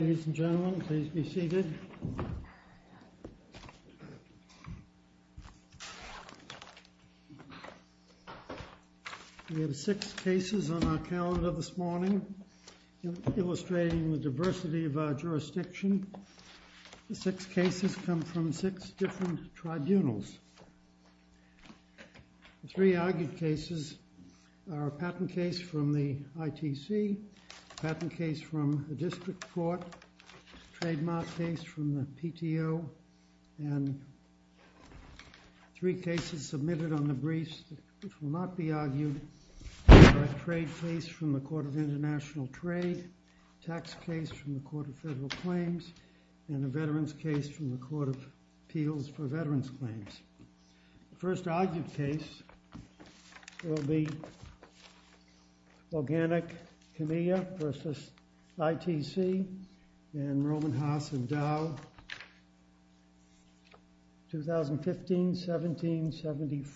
Ladies and gentlemen, please be seated. We have six cases on our calendar this morning, illustrating the diversity of our jurisdiction. The six cases come from six different tribunals. The three argued cases are a patent case from the ITC, a patent case from the District Court, a trademark case from the PTO, and three cases submitted on the briefs which will not be argued, a trade case from the Court of International Trade, a tax case from the Court of Federal Claims, and a veterans case from the Court of Appeals for Veterans Claims. The first argued case will be Organik Kimya v. ITC and Roman Haas and Dow, 2015-17-74,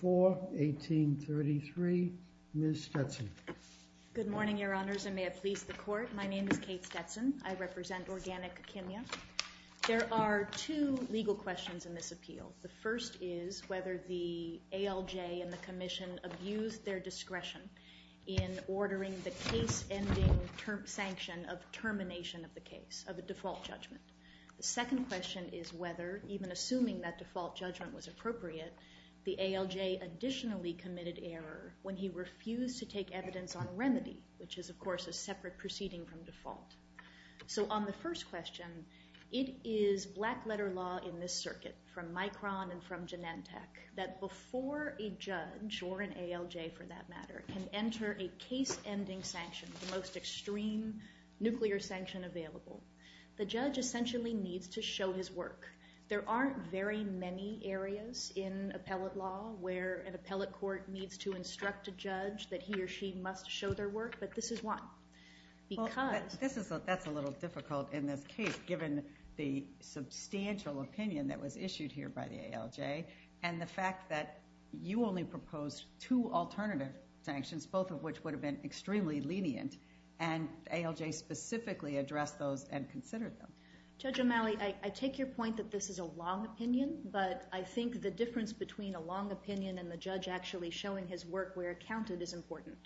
1833. Ms. Stetson. Good morning, Your Honors, and may it please the Court. My name is Kate Stetson. I represent Organik Kimya. There are two legal questions in this appeal. The first is whether the ALJ and the Commission abused their discretion in ordering the case-ending sanction of termination of the case, of a default judgment. The second question is whether, even assuming that default judgment was appropriate, the ALJ additionally committed error when he refused to take evidence on remedy, which is, of course, a separate proceeding from default. So on the first question, it is black-letter law in this circuit, from Micron and from Genentech, that before a judge, or an ALJ for that matter, can enter a case-ending sanction, the most extreme nuclear sanction available, the judge essentially needs to show his work. There aren't very many areas in appellate law where an appellate court needs to instruct a judge that he or she must show their work, but this is one. That's a little difficult in this case, given the substantial opinion that was issued here by the ALJ, and the fact that you only proposed two alternative sanctions, both of which would have been extremely lenient, and the ALJ specifically addressed those and considered them. Judge O'Malley, I take your point that this is a long opinion, but I think the difference between a long opinion and the judge actually showing his work where it counted is important.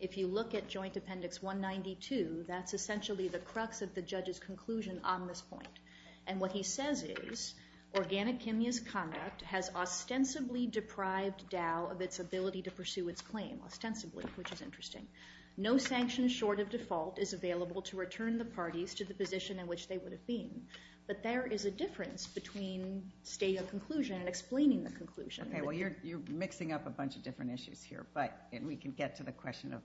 If you look at Joint Appendix 192, that's essentially the crux of the judge's conclusion on this point, and what he says is, Organic Chemist Conduct has ostensibly deprived Dow of its ability to pursue its claim. Ostensibly, which is interesting. No sanction short of default is available to return the parties to the position in which they would have been, but there is a difference between stating a conclusion and explaining the conclusion. Okay, well, you're mixing up a bunch of different issues here, and we can get to the question of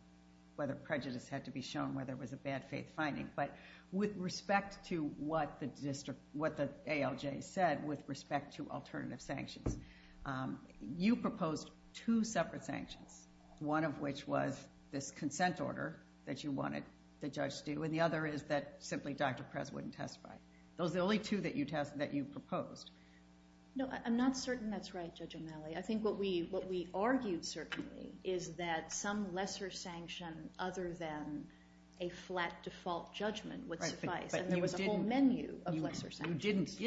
whether prejudice had to be shown, whether it was a bad faith finding, but with respect to what the ALJ said with respect to alternative sanctions, you proposed two separate sanctions, one of which was this consent order that you wanted the judge to do, and the other is that simply Dr. Prez wouldn't testify. Those are the only two that you proposed. No, I'm not certain that's right, Judge O'Malley. I think what we argued, certainly, is that some lesser sanction other than a flat default judgment would suffice, and there was a whole menu of lesser sanctions.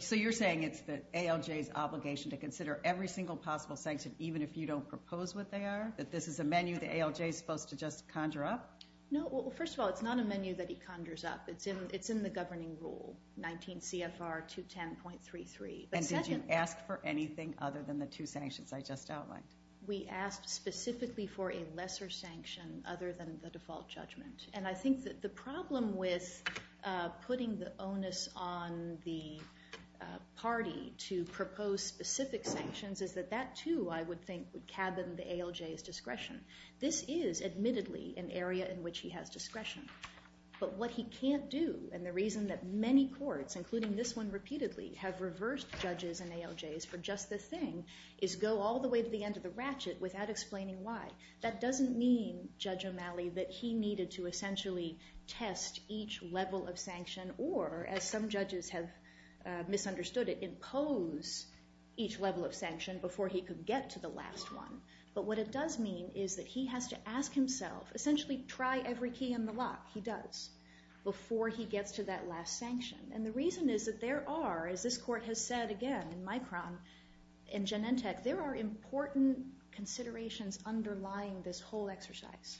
So you're saying it's the ALJ's obligation to consider every single possible sanction, even if you don't propose what they are, that this is a menu the ALJ is supposed to just conjure up? No, well, first of all, it's not a menu that he conjures up. It's in the governing rule, 19 CFR 210.33. And did you ask for anything other than the two sanctions I just outlined? We asked specifically for a lesser sanction other than the default judgment, and I think that the problem with putting the onus on the party to propose specific sanctions is that that, too, I would think would cabin the ALJ's discretion. This is, admittedly, an area in which he has discretion, but what he can't do and the reason that many courts, including this one repeatedly, have reversed judges and ALJs for just this thing is go all the way to the end of the ratchet without explaining why. That doesn't mean, Judge O'Malley, that he needed to essentially test each level of sanction or, as some judges have misunderstood it, impose each level of sanction before he could get to the last one. But what it does mean is that he has to ask himself, essentially try every key in the lock, he does, before he gets to that last sanction. And the reason is that there are, as this court has said again in Micron and Genentech, there are important considerations underlying this whole exercise.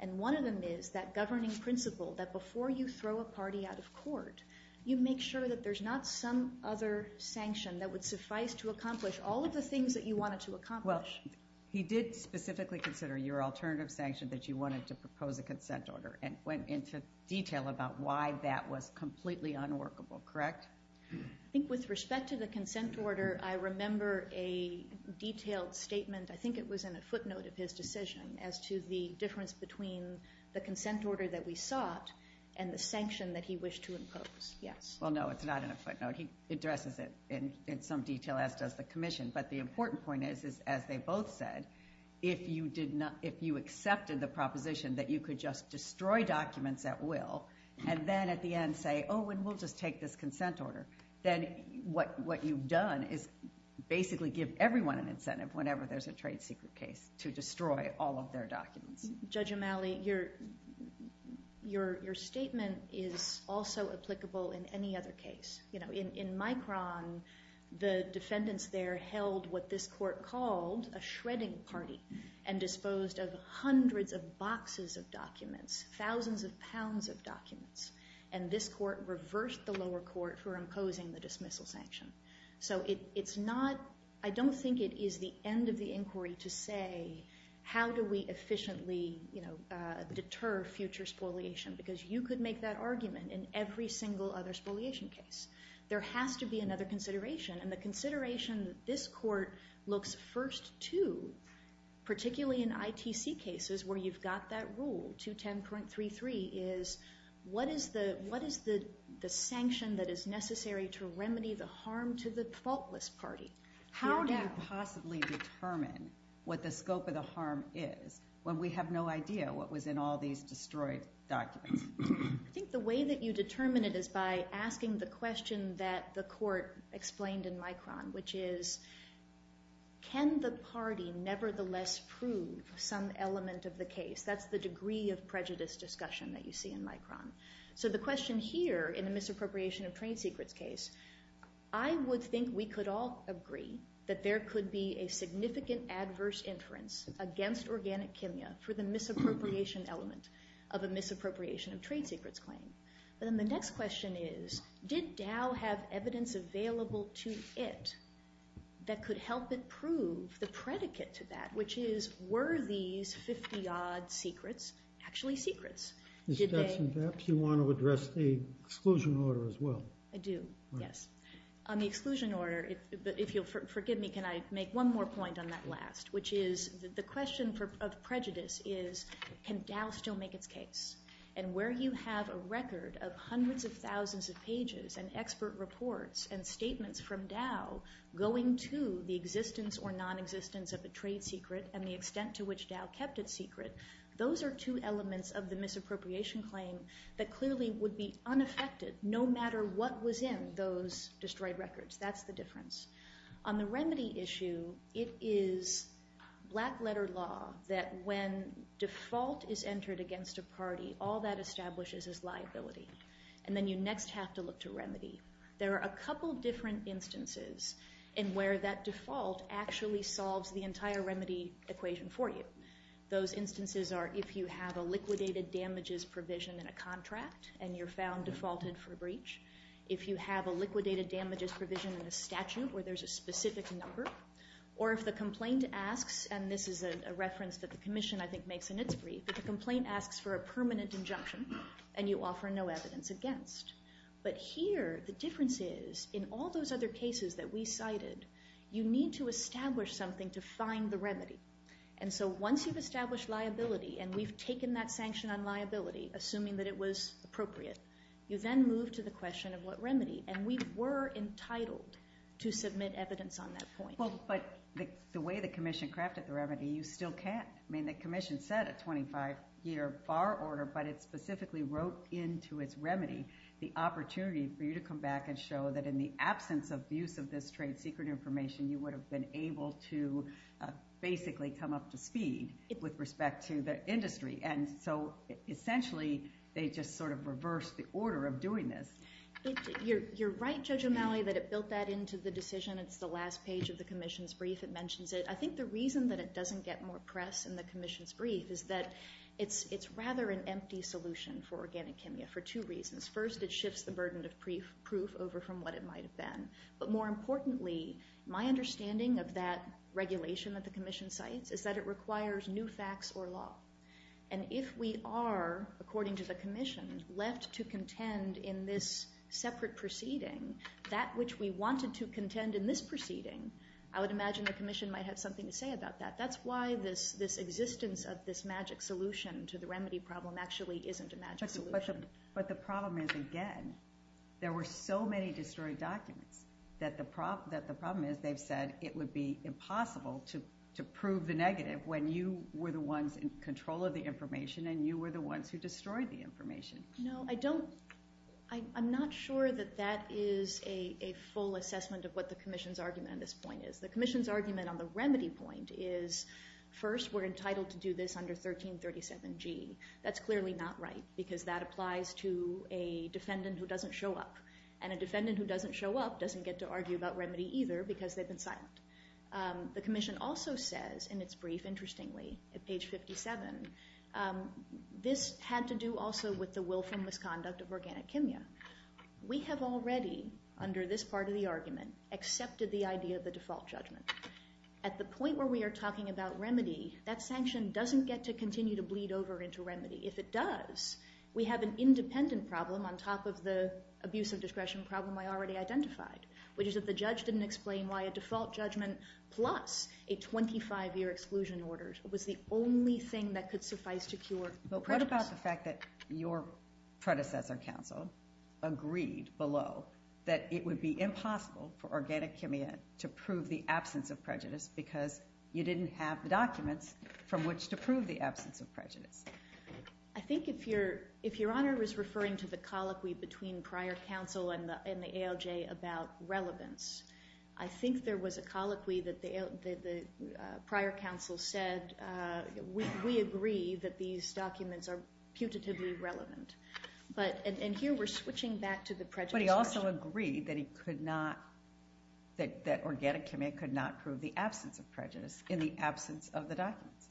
And one of them is that governing principle that before you throw a party out of court, you make sure that there's not some other sanction that would suffice to accomplish all of the things that you wanted to accomplish. Well, he did specifically consider your alternative sanction that you wanted to propose a consent order and went into detail about why that was completely unworkable, correct? I think with respect to the consent order, I remember a detailed statement. I think it was in a footnote of his decision as to the difference between the consent order that we sought and the sanction that he wished to impose, yes. Well, no, it's not in a footnote. He addresses it in some detail, as does the commission. But the important point is, as they both said, if you accepted the proposition that you could just destroy documents at will and then at the end say, oh, and we'll just take this consent order, then what you've done is basically give everyone an incentive whenever there's a trade secret case to destroy all of their documents. Judge O'Malley, your statement is also applicable in any other case. In Micron, the defendants there held what this court called a shredding party and disposed of hundreds of boxes of documents, thousands of pounds of documents, and this court reversed the lower court for imposing the dismissal sanction. So I don't think it is the end of the inquiry to say how do we efficiently deter future spoliation because you could make that argument in every single other spoliation case. There has to be another consideration, and the consideration this court looks first to, particularly in ITC cases where you've got that rule, 210.33, is what is the sanction that is necessary to remedy the harm to the faultless party? How do you possibly determine what the scope of the harm is when we have no idea what was in all these destroyed documents? I think the way that you determine it is by asking the question that the court explained in Micron, which is can the party nevertheless prove some element of the case? That's the degree of prejudice discussion that you see in Micron. So the question here in the misappropriation of trade secrets case, I would think we could all agree that there could be a significant adverse inference against organic chemia for the misappropriation element of a misappropriation of trade secrets claim. Then the next question is did Dow have evidence available to it that could help it prove the predicate to that, which is were these 50-odd secrets actually secrets? Mr. Stetson, perhaps you want to address the exclusion order as well. I do, yes. On the exclusion order, if you'll forgive me, can I make one more point on that last, which is the question of prejudice is can Dow still make its case? And where you have a record of hundreds of thousands of pages and expert reports and statements from Dow going to the existence or non-existence of a trade secret and the extent to which Dow kept it secret, those are two elements of the misappropriation claim that clearly would be unaffected no matter what was in those destroyed records. That's the difference. On the remedy issue, it is black-letter law that when default is entered against a party, all that establishes is liability. And then you next have to look to remedy. There are a couple different instances in where that default actually solves the entire remedy equation for you. Those instances are if you have a liquidated damages provision in a contract and you're found defaulted for a breach, if you have a liquidated damages provision in a statute where there's a specific number, or if the complaint asks, and this is a reference that the commission I think makes in its brief, if the complaint asks for a permanent injunction and you offer no evidence against. But here the difference is in all those other cases that we cited, you need to establish something to find the remedy. And so once you've established liability and we've taken that sanction on liability, assuming that it was appropriate, you then move to the question of what remedy. And we were entitled to submit evidence on that point. But the way the commission crafted the remedy, you still can't. I mean the commission set a 25-year bar order, but it specifically wrote into its remedy the opportunity for you to come back and show that in the absence of use of this trade secret information, you would have been able to basically come up to speed with respect to the industry. And so essentially they just sort of reversed the order of doing this. You're right, Judge O'Malley, that it built that into the decision. It's the last page of the commission's brief. It mentions it. I think the reason that it doesn't get more press in the commission's brief is that it's rather an empty solution for organic hemia for two reasons. First, it shifts the burden of proof over from what it might have been. But more importantly, my understanding of that regulation that the commission cites is that it requires new facts or law. And if we are, according to the commission, left to contend in this separate proceeding, that which we wanted to contend in this proceeding, I would imagine the commission might have something to say about that. That's why this existence of this magic solution to the remedy problem actually isn't a magic solution. But the problem is, again, there were so many destroyed documents that the problem is they've said it would be impossible to prove the negative when you were the ones in control of the information and you were the ones who destroyed the information. No, I don't. I'm not sure that that is a full assessment of what the commission's argument on this point is. The commission's argument on the remedy point is, first, we're entitled to do this under 1337G. That's clearly not right because that applies to a defendant who doesn't show up. And a defendant who doesn't show up doesn't get to argue about remedy either because they've been silent. The commission also says in its brief, interestingly, at page 57, this had to do also with the willful misconduct of organic kimya. We have already, under this part of the argument, accepted the idea of the default judgment. At the point where we are talking about remedy, that sanction doesn't get to continue to bleed over into remedy. If it does, we have an independent problem on top of the abuse of discretion problem I already identified, which is that the judge didn't explain why a default judgment plus a 25-year exclusion order was the only thing that could suffice to cure prejudice. But what about the fact that your predecessor counsel agreed below that it would be impossible for organic kimya to prove the absence of prejudice because you didn't have the documents from which to prove the absence of prejudice? I think if Your Honor is referring to the colloquy between prior counsel and the ALJ about relevance, I think there was a colloquy that the prior counsel said, we agree that these documents are putatively relevant. And here we're switching back to the prejudice question. He also agreed that organic kimya could not prove the absence of prejudice in the absence of the documents.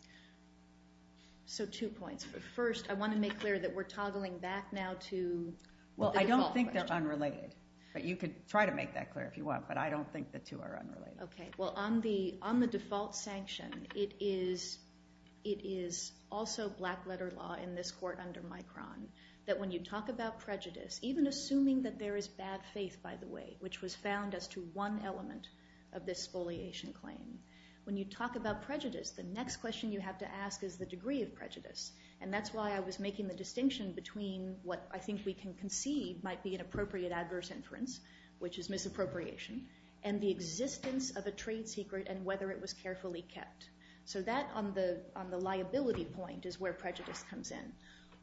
So two points. First, I want to make clear that we're toggling back now to the default question. Well, I don't think they're unrelated. But you could try to make that clear if you want, but I don't think the two are unrelated. Okay. Well, on the default sanction, it is also black-letter law in this court under Micron that when you talk about prejudice, even assuming that there is bad faith, by the way, which was found as to one element of this spoliation claim, when you talk about prejudice, the next question you have to ask is the degree of prejudice. And that's why I was making the distinction between what I think we can conceive might be an appropriate adverse inference, which is misappropriation, and the existence of a trade secret and whether it was carefully kept. So that on the liability point is where prejudice comes in.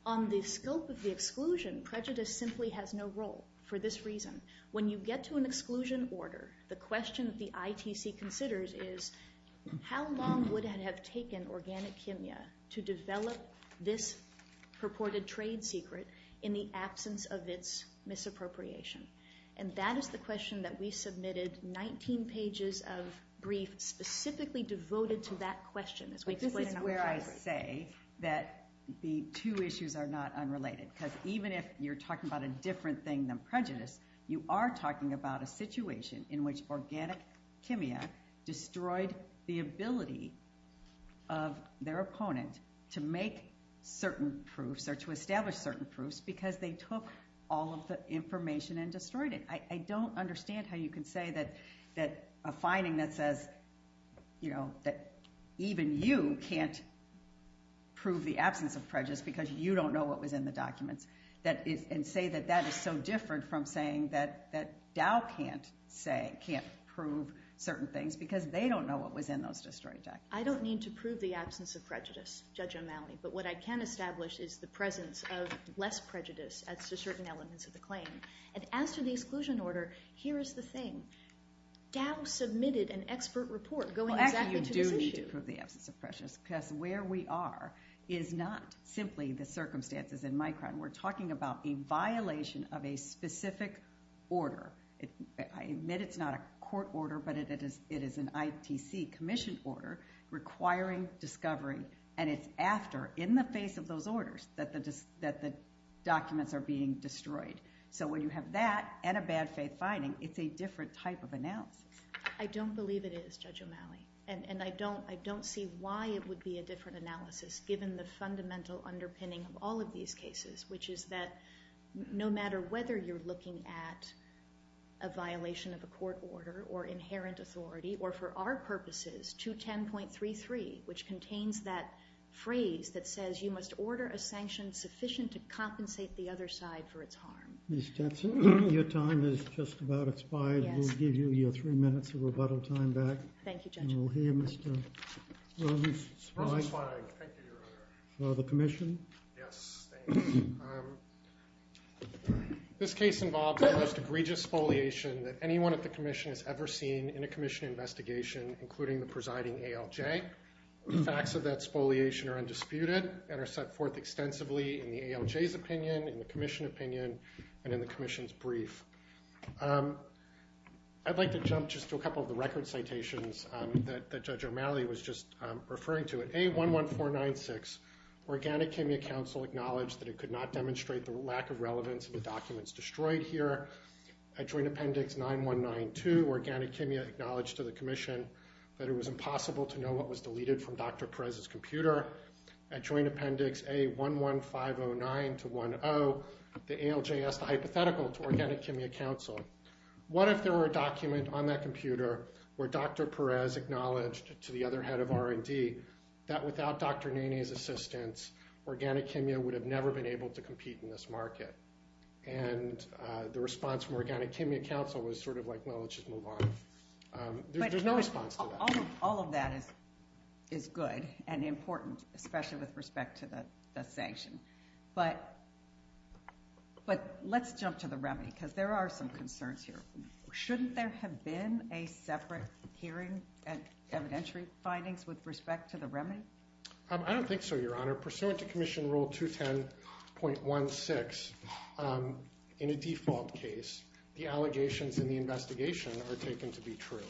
On the scope of the exclusion, prejudice simply has no role for this reason. When you get to an exclusion order, the question that the ITC considers is how long would it have taken organic chemia to develop this purported trade secret in the absence of its misappropriation? And that is the question that we submitted 19 pages of briefs specifically devoted to that question. This is where I say that the two issues are not unrelated, because even if you're talking about a different thing than prejudice, you are talking about a situation in which organic chemia destroyed the ability of their opponent to make certain proofs or to establish certain proofs because they took all of the information and destroyed it. I don't understand how you can say that a finding that says, you know, that even you can't prove the absence of prejudice because you don't know what was in the documents, and say that that is so different from saying that Dow can't prove certain things because they don't know what was in those destroyed documents. I don't mean to prove the absence of prejudice, Judge O'Malley, but what I can establish is the presence of less prejudice as to certain elements of the claim. And as to the exclusion order, here is the thing. Dow submitted an expert report going exactly to this issue. Actually, you do need to prove the absence of prejudice, because where we are is not simply the circumstances in my crime. We're talking about a violation of a specific order. I admit it's not a court order, but it is an ITC commission order requiring discovery, and it's after, in the face of those orders, that the documents are being destroyed. So when you have that and a bad faith finding, it's a different type of analysis. I don't believe it is, Judge O'Malley, and I don't see why it would be a different analysis given the fundamental underpinning of all of these cases, which is that no matter whether you're looking at a violation of a court order or inherent authority, or for our purposes, 210.33, which contains that phrase that says you must order a sanction sufficient to compensate the other side for its harm. Ms. Jensen, your time has just about expired. We'll give you your three minutes of rebuttal time back. Thank you, Judge O'Malley. And we'll hear Mr. Rosenzweig from the commission. Yes, thank you. This case involves the most egregious spoliation that anyone at the commission has ever seen in a commission investigation, including the presiding ALJ. The facts of that spoliation are undisputed and are set forth extensively in the ALJ's opinion, in the commission opinion, and in the commission's brief. I'd like to jump just to a couple of the record citations that Judge O'Malley was just referring to. At A11496, Organic Chemia Council acknowledged that it could not demonstrate the lack of relevance of the documents destroyed here. At Joint Appendix 9192, Organic Chemia acknowledged to the commission At Joint Appendix A11509-10, the ALJ asked a hypothetical to Organic Chemia Council. What if there were a document on that computer where Dr. Perez acknowledged to the other head of R&D that without Dr. Nene's assistance, Organic Chemia would have never been able to compete in this market? And the response from Organic Chemia Council was sort of like, well, let's just move on. There's no response to that. All of that is good and important, especially with respect to the sanction. But let's jump to the remedy, because there are some concerns here. Shouldn't there have been a separate hearing and evidentiary findings with respect to the remedy? I don't think so, Your Honor. Pursuant to Commission Rule 210.16, in a default case, the allegations in the investigation are taken to be true.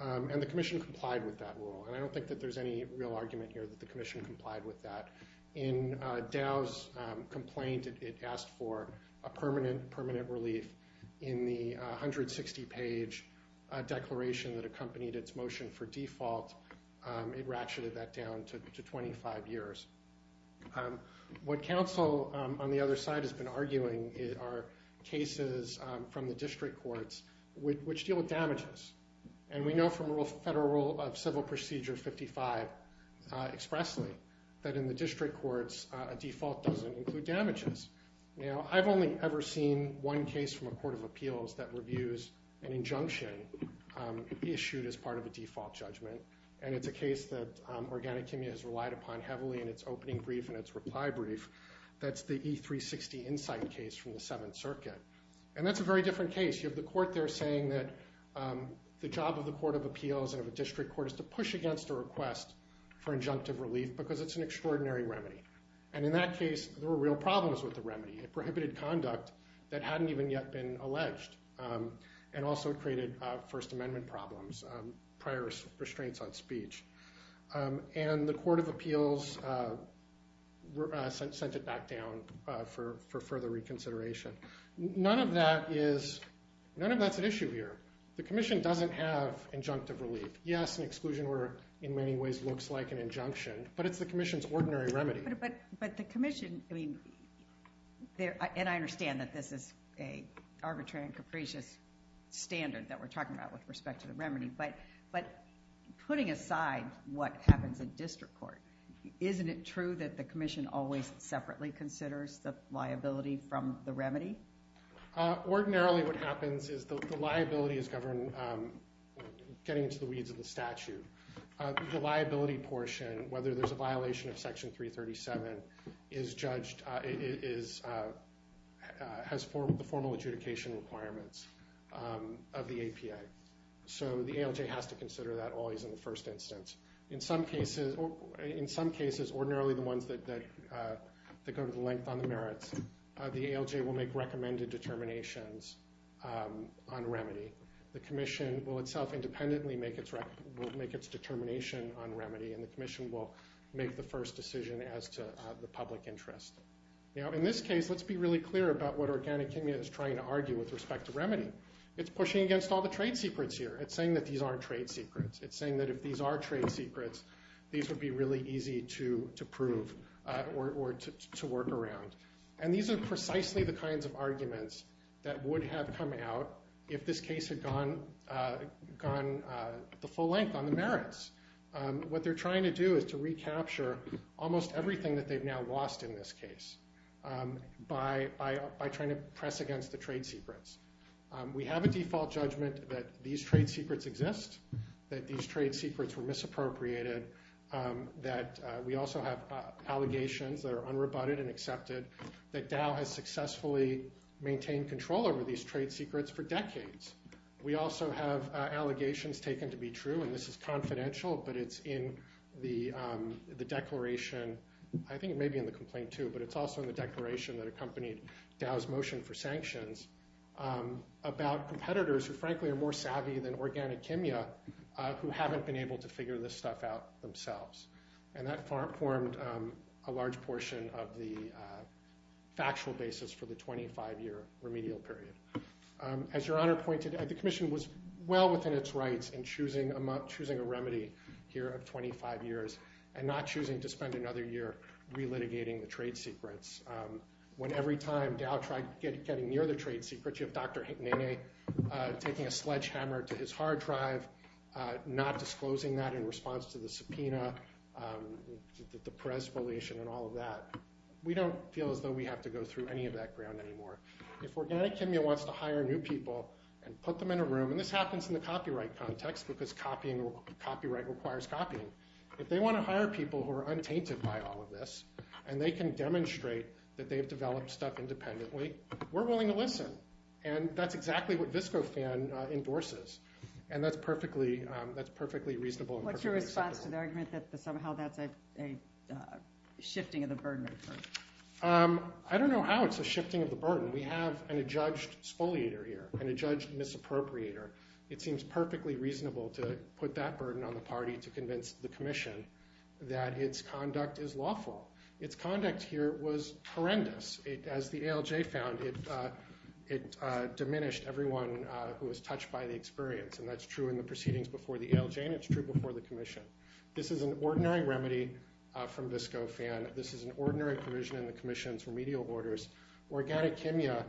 And the Commission complied with that rule. And I don't think that there's any real argument here that the Commission complied with that. In Dow's complaint, it asked for a permanent relief. In the 160-page declaration that accompanied its motion for default, it ratcheted that down to 25 years. What counsel on the other side has been arguing are cases from the district courts which deal with damages. And we know from Federal Rule of Civil Procedure 55 expressly that in the district courts, a default doesn't include damages. Now, I've only ever seen one case from a court of appeals that reviews an injunction issued as part of a default judgment. And it's a case that Organic Chemia has relied upon heavily in its opening brief and its reply brief. That's the E360 Insight case from the Seventh Circuit. And that's a very different case. You have the court there saying that the job of the court of appeals and of a district court is to push against a request for injunctive relief because it's an extraordinary remedy. And in that case, there were real problems with the remedy. It prohibited conduct that hadn't even yet been alleged. And also it created First Amendment problems, prior restraints on speech. And the court of appeals sent it back down for further reconsideration. None of that is an issue here. The commission doesn't have injunctive relief. Yes, an exclusion order in many ways looks like an injunction, but it's the commission's ordinary remedy. But the commission, I mean, and I understand that this is an arbitrary and capricious standard that we're talking about with respect to the remedy. But putting aside what happens in district court, isn't it true that the commission always separately considers the liability from the remedy? Ordinarily what happens is the liability is governed, getting into the weeds of the statute. The liability portion, whether there's a violation of Section 337, is judged, has the formal adjudication requirements of the APA. So the ALJ has to consider that always in the first instance. In some cases, ordinarily the ones that go to the length on the merits, the ALJ will make recommended determinations on remedy. The commission will itself independently make its determination on remedy, and the commission will make the first decision as to the public interest. Now in this case, let's be really clear about what Organic Kimya is trying to argue with respect to remedy. It's pushing against all the trade secrets here. It's saying that these aren't trade secrets. It's saying that if these are trade secrets, these would be really easy to prove or to work around. And these are precisely the kinds of arguments that would have come out if this case had gone the full length on the merits. What they're trying to do is to recapture almost everything that they've now We have a default judgment that these trade secrets exist, that these trade secrets were misappropriated, that we also have allegations that are unrebutted and accepted, that Dow has successfully maintained control over these trade secrets for decades. We also have allegations taken to be true, and this is confidential, but it's in the declaration. I think it may be in the complaint too, but it's also in the declaration that accompanied Dow's motion for sanctions about competitors who, frankly, are more savvy than Organic Kimya, who haven't been able to figure this stuff out themselves. And that formed a large portion of the factual basis for the 25-year remedial period. As Your Honor pointed out, the Commission was well within its rights in choosing a remedy here of 25 years and not choosing to spend another year relitigating the trade secrets. When every time Dow tried getting near the trade secrets, you have Dr. Nene taking a sledgehammer to his hard drive, not disclosing that in response to the subpoena, the Perez violation and all of that. We don't feel as though we have to go through any of that ground anymore. If Organic Kimya wants to hire new people and put them in a room, and this happens in the copyright context because copyright requires copying, if they want to hire people who are untainted by all of this and they can demonstrate that they've developed stuff independently, we're willing to listen. And that's exactly what VSCOFAN endorses, and that's perfectly reasonable. What's your response to the argument that somehow that's a shifting of the burden? I don't know how it's a shifting of the burden. We have an adjudged spoliator here, an adjudged misappropriator. It seems perfectly reasonable to put that burden on the party to convince the Commission that its conduct is lawful. Its conduct here was horrendous. As the ALJ found, it diminished everyone who was touched by the experience, and that's true in the proceedings before the ALJ and it's true before the Commission. This is an ordinary remedy from VSCOFAN. This is an ordinary provision in the Commission's remedial orders. Organic Kimya,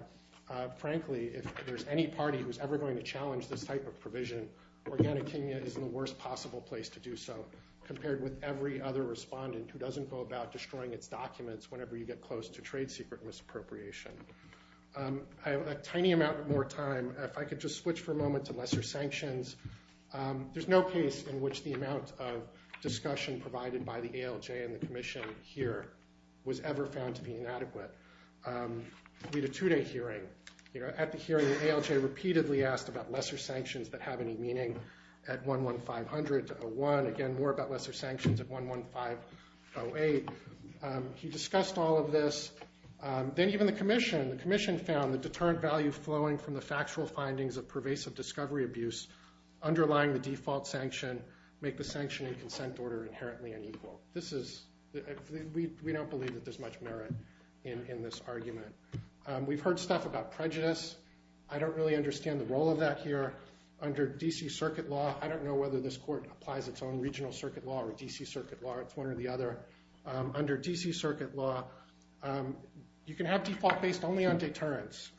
frankly, if there's any party who's ever going to challenge this type of provision, organic Kimya is the worst possible place to do so compared with every other respondent who doesn't go about destroying its documents whenever you get close to trade secret misappropriation. I have a tiny amount more time. If I could just switch for a moment to lesser sanctions. There's no case in which the amount of discussion provided by the ALJ and the Commission here was ever found to be inadequate. We had a two-day hearing. At the hearing, the ALJ repeatedly asked about lesser sanctions that have any meaning at 11500-01. Again, more about lesser sanctions at 11508. He discussed all of this. Then even the Commission. The Commission found the deterrent value flowing from the factual findings of pervasive discovery abuse underlying the default sanction make the sanction and consent order inherently unequal. We don't believe that there's much merit in this argument. We've heard stuff about prejudice. I don't really understand the role of that here under D.C. Circuit Law. I don't know whether this court applies its own regional circuit law or D.C. Circuit Law. It's one or the other. Under D.C. Circuit Law, you can have default based only on deterrence,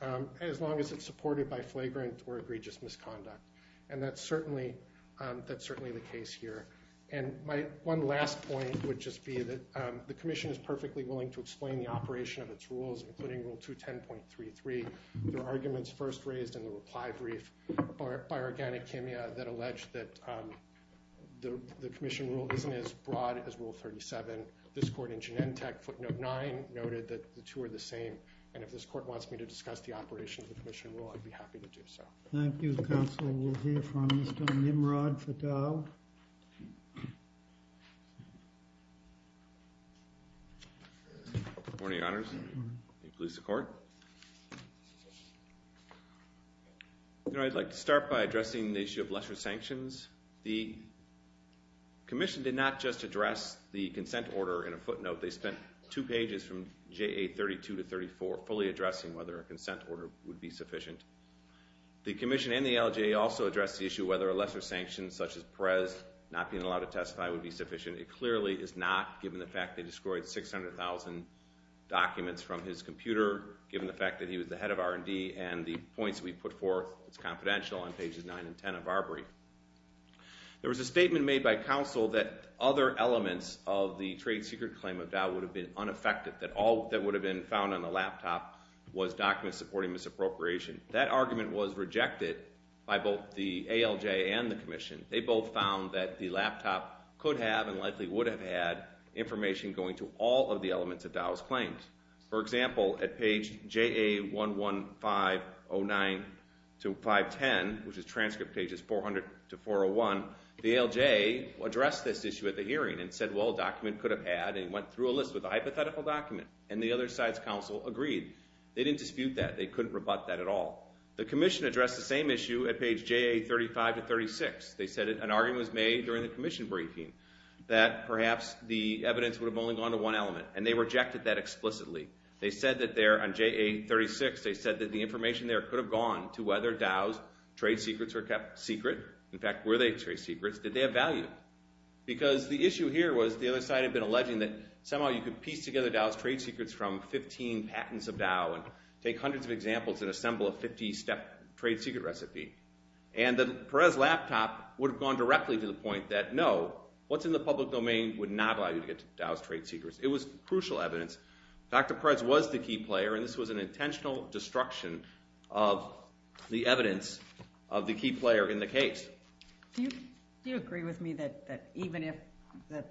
as long as it's supported by flagrant or egregious misconduct. And that's certainly the case here. And my one last point would just be that the Commission is perfectly willing to explain the operation of its rules, including Rule 210.33. There are arguments first raised in the reply brief by Organic Chemia that allege that the Commission rule isn't as broad as Rule 37. This court in Genentech, footnote 9, noted that the two are the same. And if this court wants me to discuss the operation of the Commission rule, I'd be happy to do so. Thank you. The Council will hear from Mr. Nimrod Fatal. Good morning, Your Honors. Please support. I'd like to start by addressing the issue of lesser sanctions. The Commission did not just address the consent order in a footnote. They spent two pages from JA 32 to 34 fully addressing whether a consent order would be sufficient. The Commission and the LJA also addressed the issue of whether a lesser sanction such as Perez not being allowed to testify would be sufficient. It clearly is not, given the fact they destroyed 600,000 documents from his computer, given the fact that he was the head of R&D and the points we put forth, it's confidential, on pages 9 and 10 of our brief. There was a statement made by Council that other elements of the trade secret claim of Val would have been unaffected, that all that would have been found on the laptop was documents supporting misappropriation. That argument was rejected by both the ALJ and the Commission. They both found that the laptop could have and likely would have had information going to all of the elements of Val's claims. For example, at page JA 11509-510, which is transcript pages 400-401, the ALJ addressed this issue at the hearing and said, well, a document could have had and went through a list with a hypothetical document. And the other side's council agreed. They didn't dispute that. They couldn't rebut that at all. The Commission addressed the same issue at page JA 35-36. They said an argument was made during the Commission briefing that perhaps the evidence would have only gone to one element, and they rejected that explicitly. They said that there on JA 36, they said that the information there could have gone to whether Dow's trade secrets were kept secret. In fact, were they trade secrets? Did they have value? Because the issue here was the other side had been alleging that somehow you could piece together Dow's trade secrets from 15 patents of Dow and take hundreds of examples and assemble a 50-step trade secret recipe, and that Perez's laptop would have gone directly to the point that, no, what's in the public domain would not allow you to get to Dow's trade secrets. It was crucial evidence. Dr. Perez was the key player, and this was an intentional destruction of the evidence of the key player in the case. Do you agree with me that even if the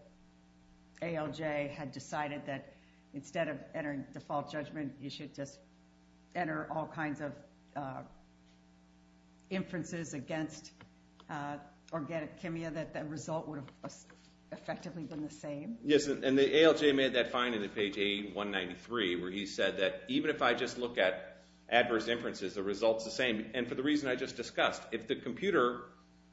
ALJ had decided that instead of entering default judgment, you should just enter all kinds of inferences against organic chemia, that the result would have effectively been the same? Yes, and the ALJ made that finding at page A193, where he said that even if I just look at adverse inferences, the result's the same, and for the reason I just discussed. If the computer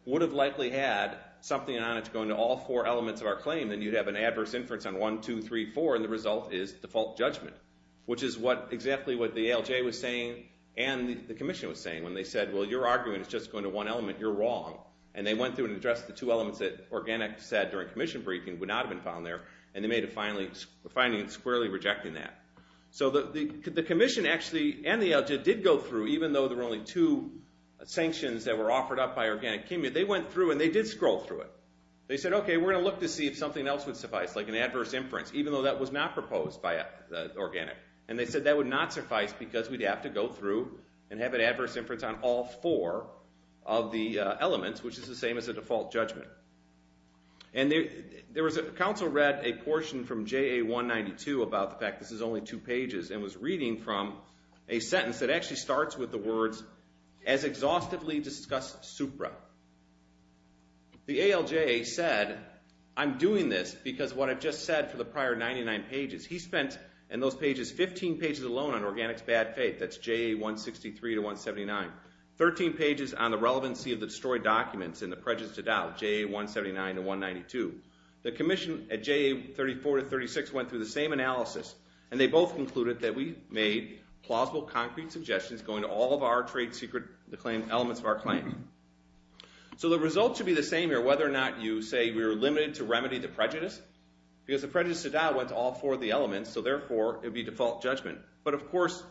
would have likely had something on it to go into all four elements of our claim, then you'd have an adverse inference on 1, 2, 3, 4, and the result is default judgment, which is exactly what the ALJ was saying and the commission was saying when they said, well, your argument is just going to one element. You're wrong. And they went through and addressed the two elements that organic said during commission briefing would not have been found there, and they made a finding squarely rejecting that. So the commission actually and the ALJ did go through, even though there were only two sanctions that were offered up by organic chemia, they went through and they did scroll through it. They said, okay, we're going to look to see if something else would suffice, like an adverse inference, even though that was not proposed by organic. And they said that would not suffice because we'd have to go through and have an adverse inference on all four of the elements, which is the same as a default judgment. And the council read a portion from JA192 about the fact this is only two pages and was reading from a sentence that actually starts with the words, as exhaustively discussed supra. The ALJ said, I'm doing this because what I've just said for the prior 99 pages. He spent in those pages 15 pages alone on organic's bad faith. That's JA163 to 179. Thirteen pages on the relevancy of the destroyed documents and the prejudice to doubt, JA179 to 192. The commission at JA34 to 36 went through the same analysis and they both concluded that we made plausible concrete suggestions going to all of our trade secret elements of our claim. So the result should be the same here, whether or not you say we're limited to remedy the prejudice, because the prejudice to doubt went to all four of the elements, so therefore it would be default judgment. But, of course,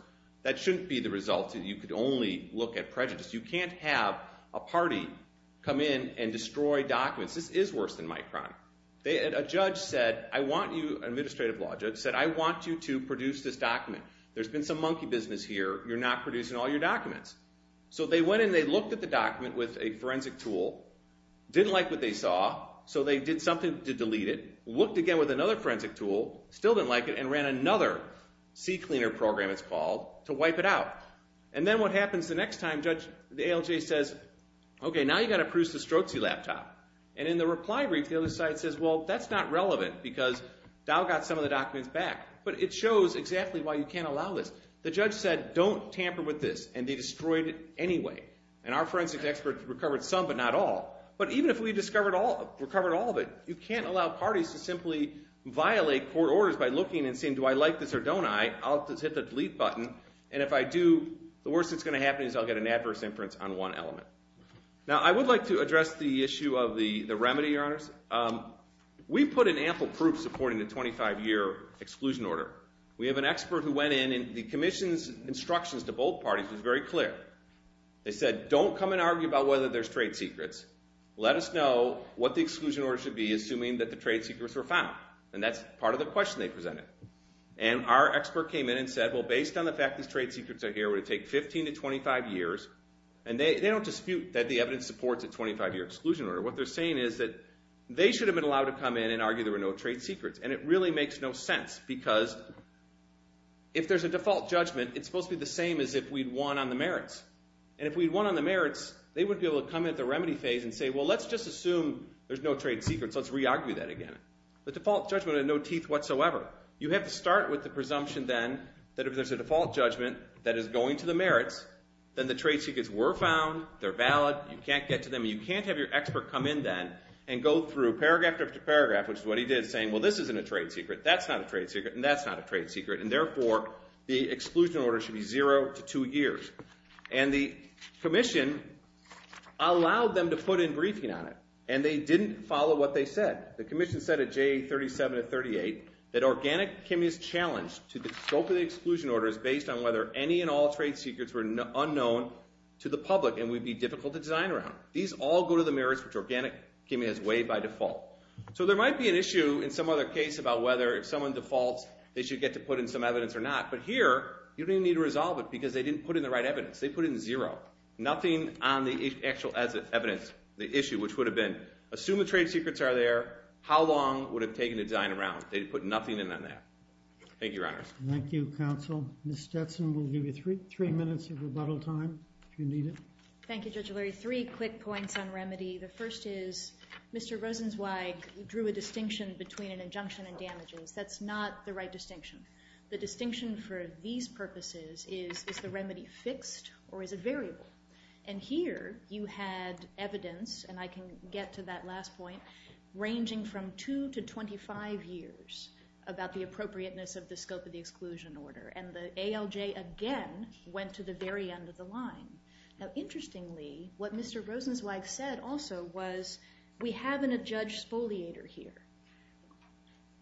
that shouldn't be the result. You could only look at prejudice. You can't have a party come in and destroy documents. This is worse than Micron. A judge said, I want you, an administrative law judge, said, I want you to produce this document. There's been some monkey business here. You're not producing all your documents. So they went and they looked at the document with a forensic tool, didn't like what they saw, so they did something to delete it, looked again with another forensic tool, still didn't like it, and ran another CCleaner program, it's called, to wipe it out. And then what happens the next time, the ALJ says, okay, now you've got to produce the Strozzi laptop. And in the reply brief, the other side says, well, that's not relevant, because Dow got some of the documents back. But it shows exactly why you can't allow this. The judge said, don't tamper with this, and they destroyed it anyway. And our forensic experts recovered some, but not all. But even if we discovered all of it, you can't allow parties to simply violate court orders by looking and saying, do I like this or don't I? I'll just hit the delete button, and if I do, the worst that's going to happen is I'll get an adverse inference on one element. Now, I would like to address the issue of the remedy, Your Honors. We put in ample proof supporting the 25-year exclusion order. We have an expert who went in, and the commission's instructions to both parties was very clear. They said, don't come and argue about whether there's trade secrets. Let us know what the exclusion order should be, assuming that the trade secrets were found. And that's part of the question they presented. And our expert came in and said, well, based on the fact these trade secrets are here, it would take 15 to 25 years. And they don't dispute that the evidence supports a 25-year exclusion order. What they're saying is that they should have been allowed to come in and argue there were no trade secrets. And it really makes no sense, because if there's a default judgment, it's supposed to be the same as if we'd won on the merits. And if we'd won on the merits, they would be able to come in at the remedy phase and say, well, let's just assume there's no trade secrets. Let's re-argue that again. The default judgment had no teeth whatsoever. You have to start with the presumption then that if there's a default judgment that is going to the merits, then the trade secrets were found, they're valid, you can't get to them, and you can't have your expert come in then and go through paragraph after paragraph, which is what he did, saying, well, this isn't a trade secret, that's not a trade secret, and that's not a trade secret, and therefore the exclusion order should be zero to two years. And the commission allowed them to put in briefing on it, and they didn't follow what they said. The commission said at J37 and 38 that organic chemistry is challenged to the scope of the exclusion order is based on whether any and all trade secrets were unknown to the public and would be difficult to design around. These all go to the merits, which organic chemistry has waived by default. So there might be an issue in some other case about whether if someone defaults, they should get to put in some evidence or not, but here you don't even need to resolve it because they didn't put in the right evidence. They put in zero, nothing on the actual evidence, the issue, which would have been, assume the trade secrets are there, how long would it have taken to design around? They put nothing in on that. Thank you, Your Honors. Thank you, Counsel. Ms. Stetson will give you three minutes of rebuttal time if you need it. Thank you, Judge O'Leary. Three quick points on remedy. The first is Mr. Rosenzweig drew a distinction between an injunction and damages. That's not the right distinction. The distinction for these purposes is, is the remedy fixed or is it variable? And here you had evidence, and I can get to that last point, ranging from 2 to 25 years about the appropriateness of the scope of the exclusion order, and the ALJ again went to the very end of the line. Now, interestingly, what Mr. Rosenzweig said also was, we have an adjudged spoliator here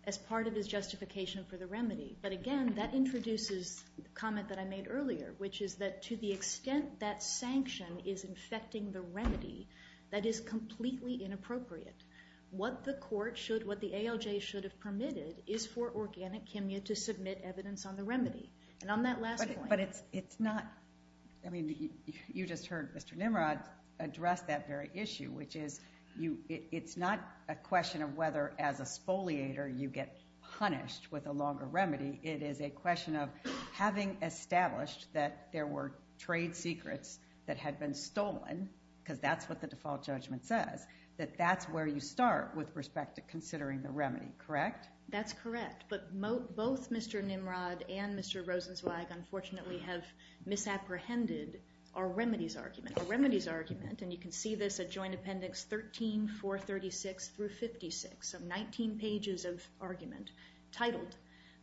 as part of his justification for the remedy, but again, that introduces a comment that I made earlier, which is that to the extent that sanction is infecting the remedy, that is completely inappropriate. What the court should, what the ALJ should have permitted is for Organic Chemia to submit evidence on the remedy. And on that last point... But it's not... I mean, you just heard Mr. Nimrod address that very issue, which is, it's not a question of whether as a spoliator you get punished with a longer remedy. It is a question of having established that there were trade secrets that had been stolen, because that's what the default judgment says, that that's where you start with respect to considering the remedy, correct? That's correct. But both Mr. Nimrod and Mr. Rosenzweig, unfortunately, have misapprehended our remedies argument. Our remedies argument, and you can see this at Joint Appendix 13, 436 through 56, so 19 pages of argument, titled,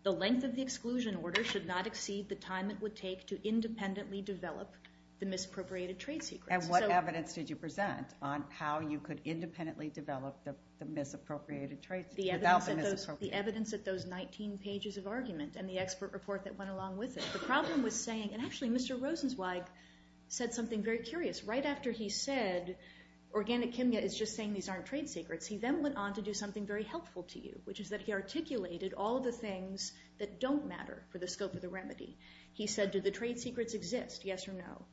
The length of the exclusion order should not exceed the time it would take to independently develop the misappropriated trade secrets. And what evidence did you present on how you could independently develop the misappropriated trade secrets? The evidence at those 19 pages of argument and the expert report that went along with it. The problem was saying... And actually, Mr. Rosenzweig said something very curious. Right after he said, Organic Chemia is just saying these aren't trade secrets, he then went on to do something very helpful to you, which is that he articulated all the things that don't matter for the scope of the remedy. He said, do the trade secrets exist? Yes or no.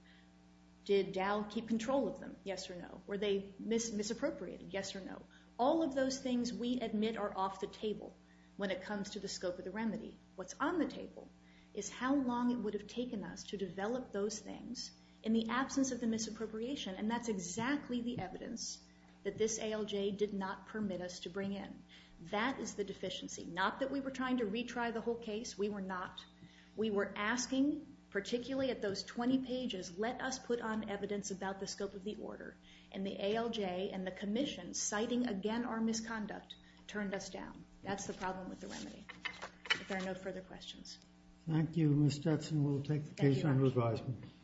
Did Dow keep control of them? Yes or no. Were they misappropriated? Yes or no. All of those things, we admit, are off the table when it comes to the scope of the remedy. What's on the table is how long it would have taken us to develop those things in the absence of the misappropriation, and that's exactly the evidence that this ALJ did not permit us to bring in. That is the deficiency. Not that we were trying to retry the whole case. We were not. Nothing, particularly at those 20 pages, let us put on evidence about the scope of the order, and the ALJ and the Commission, citing again our misconduct, turned us down. That's the problem with the remedy. If there are no further questions. Thank you, Ms. Stetson. We'll take the case under advisement.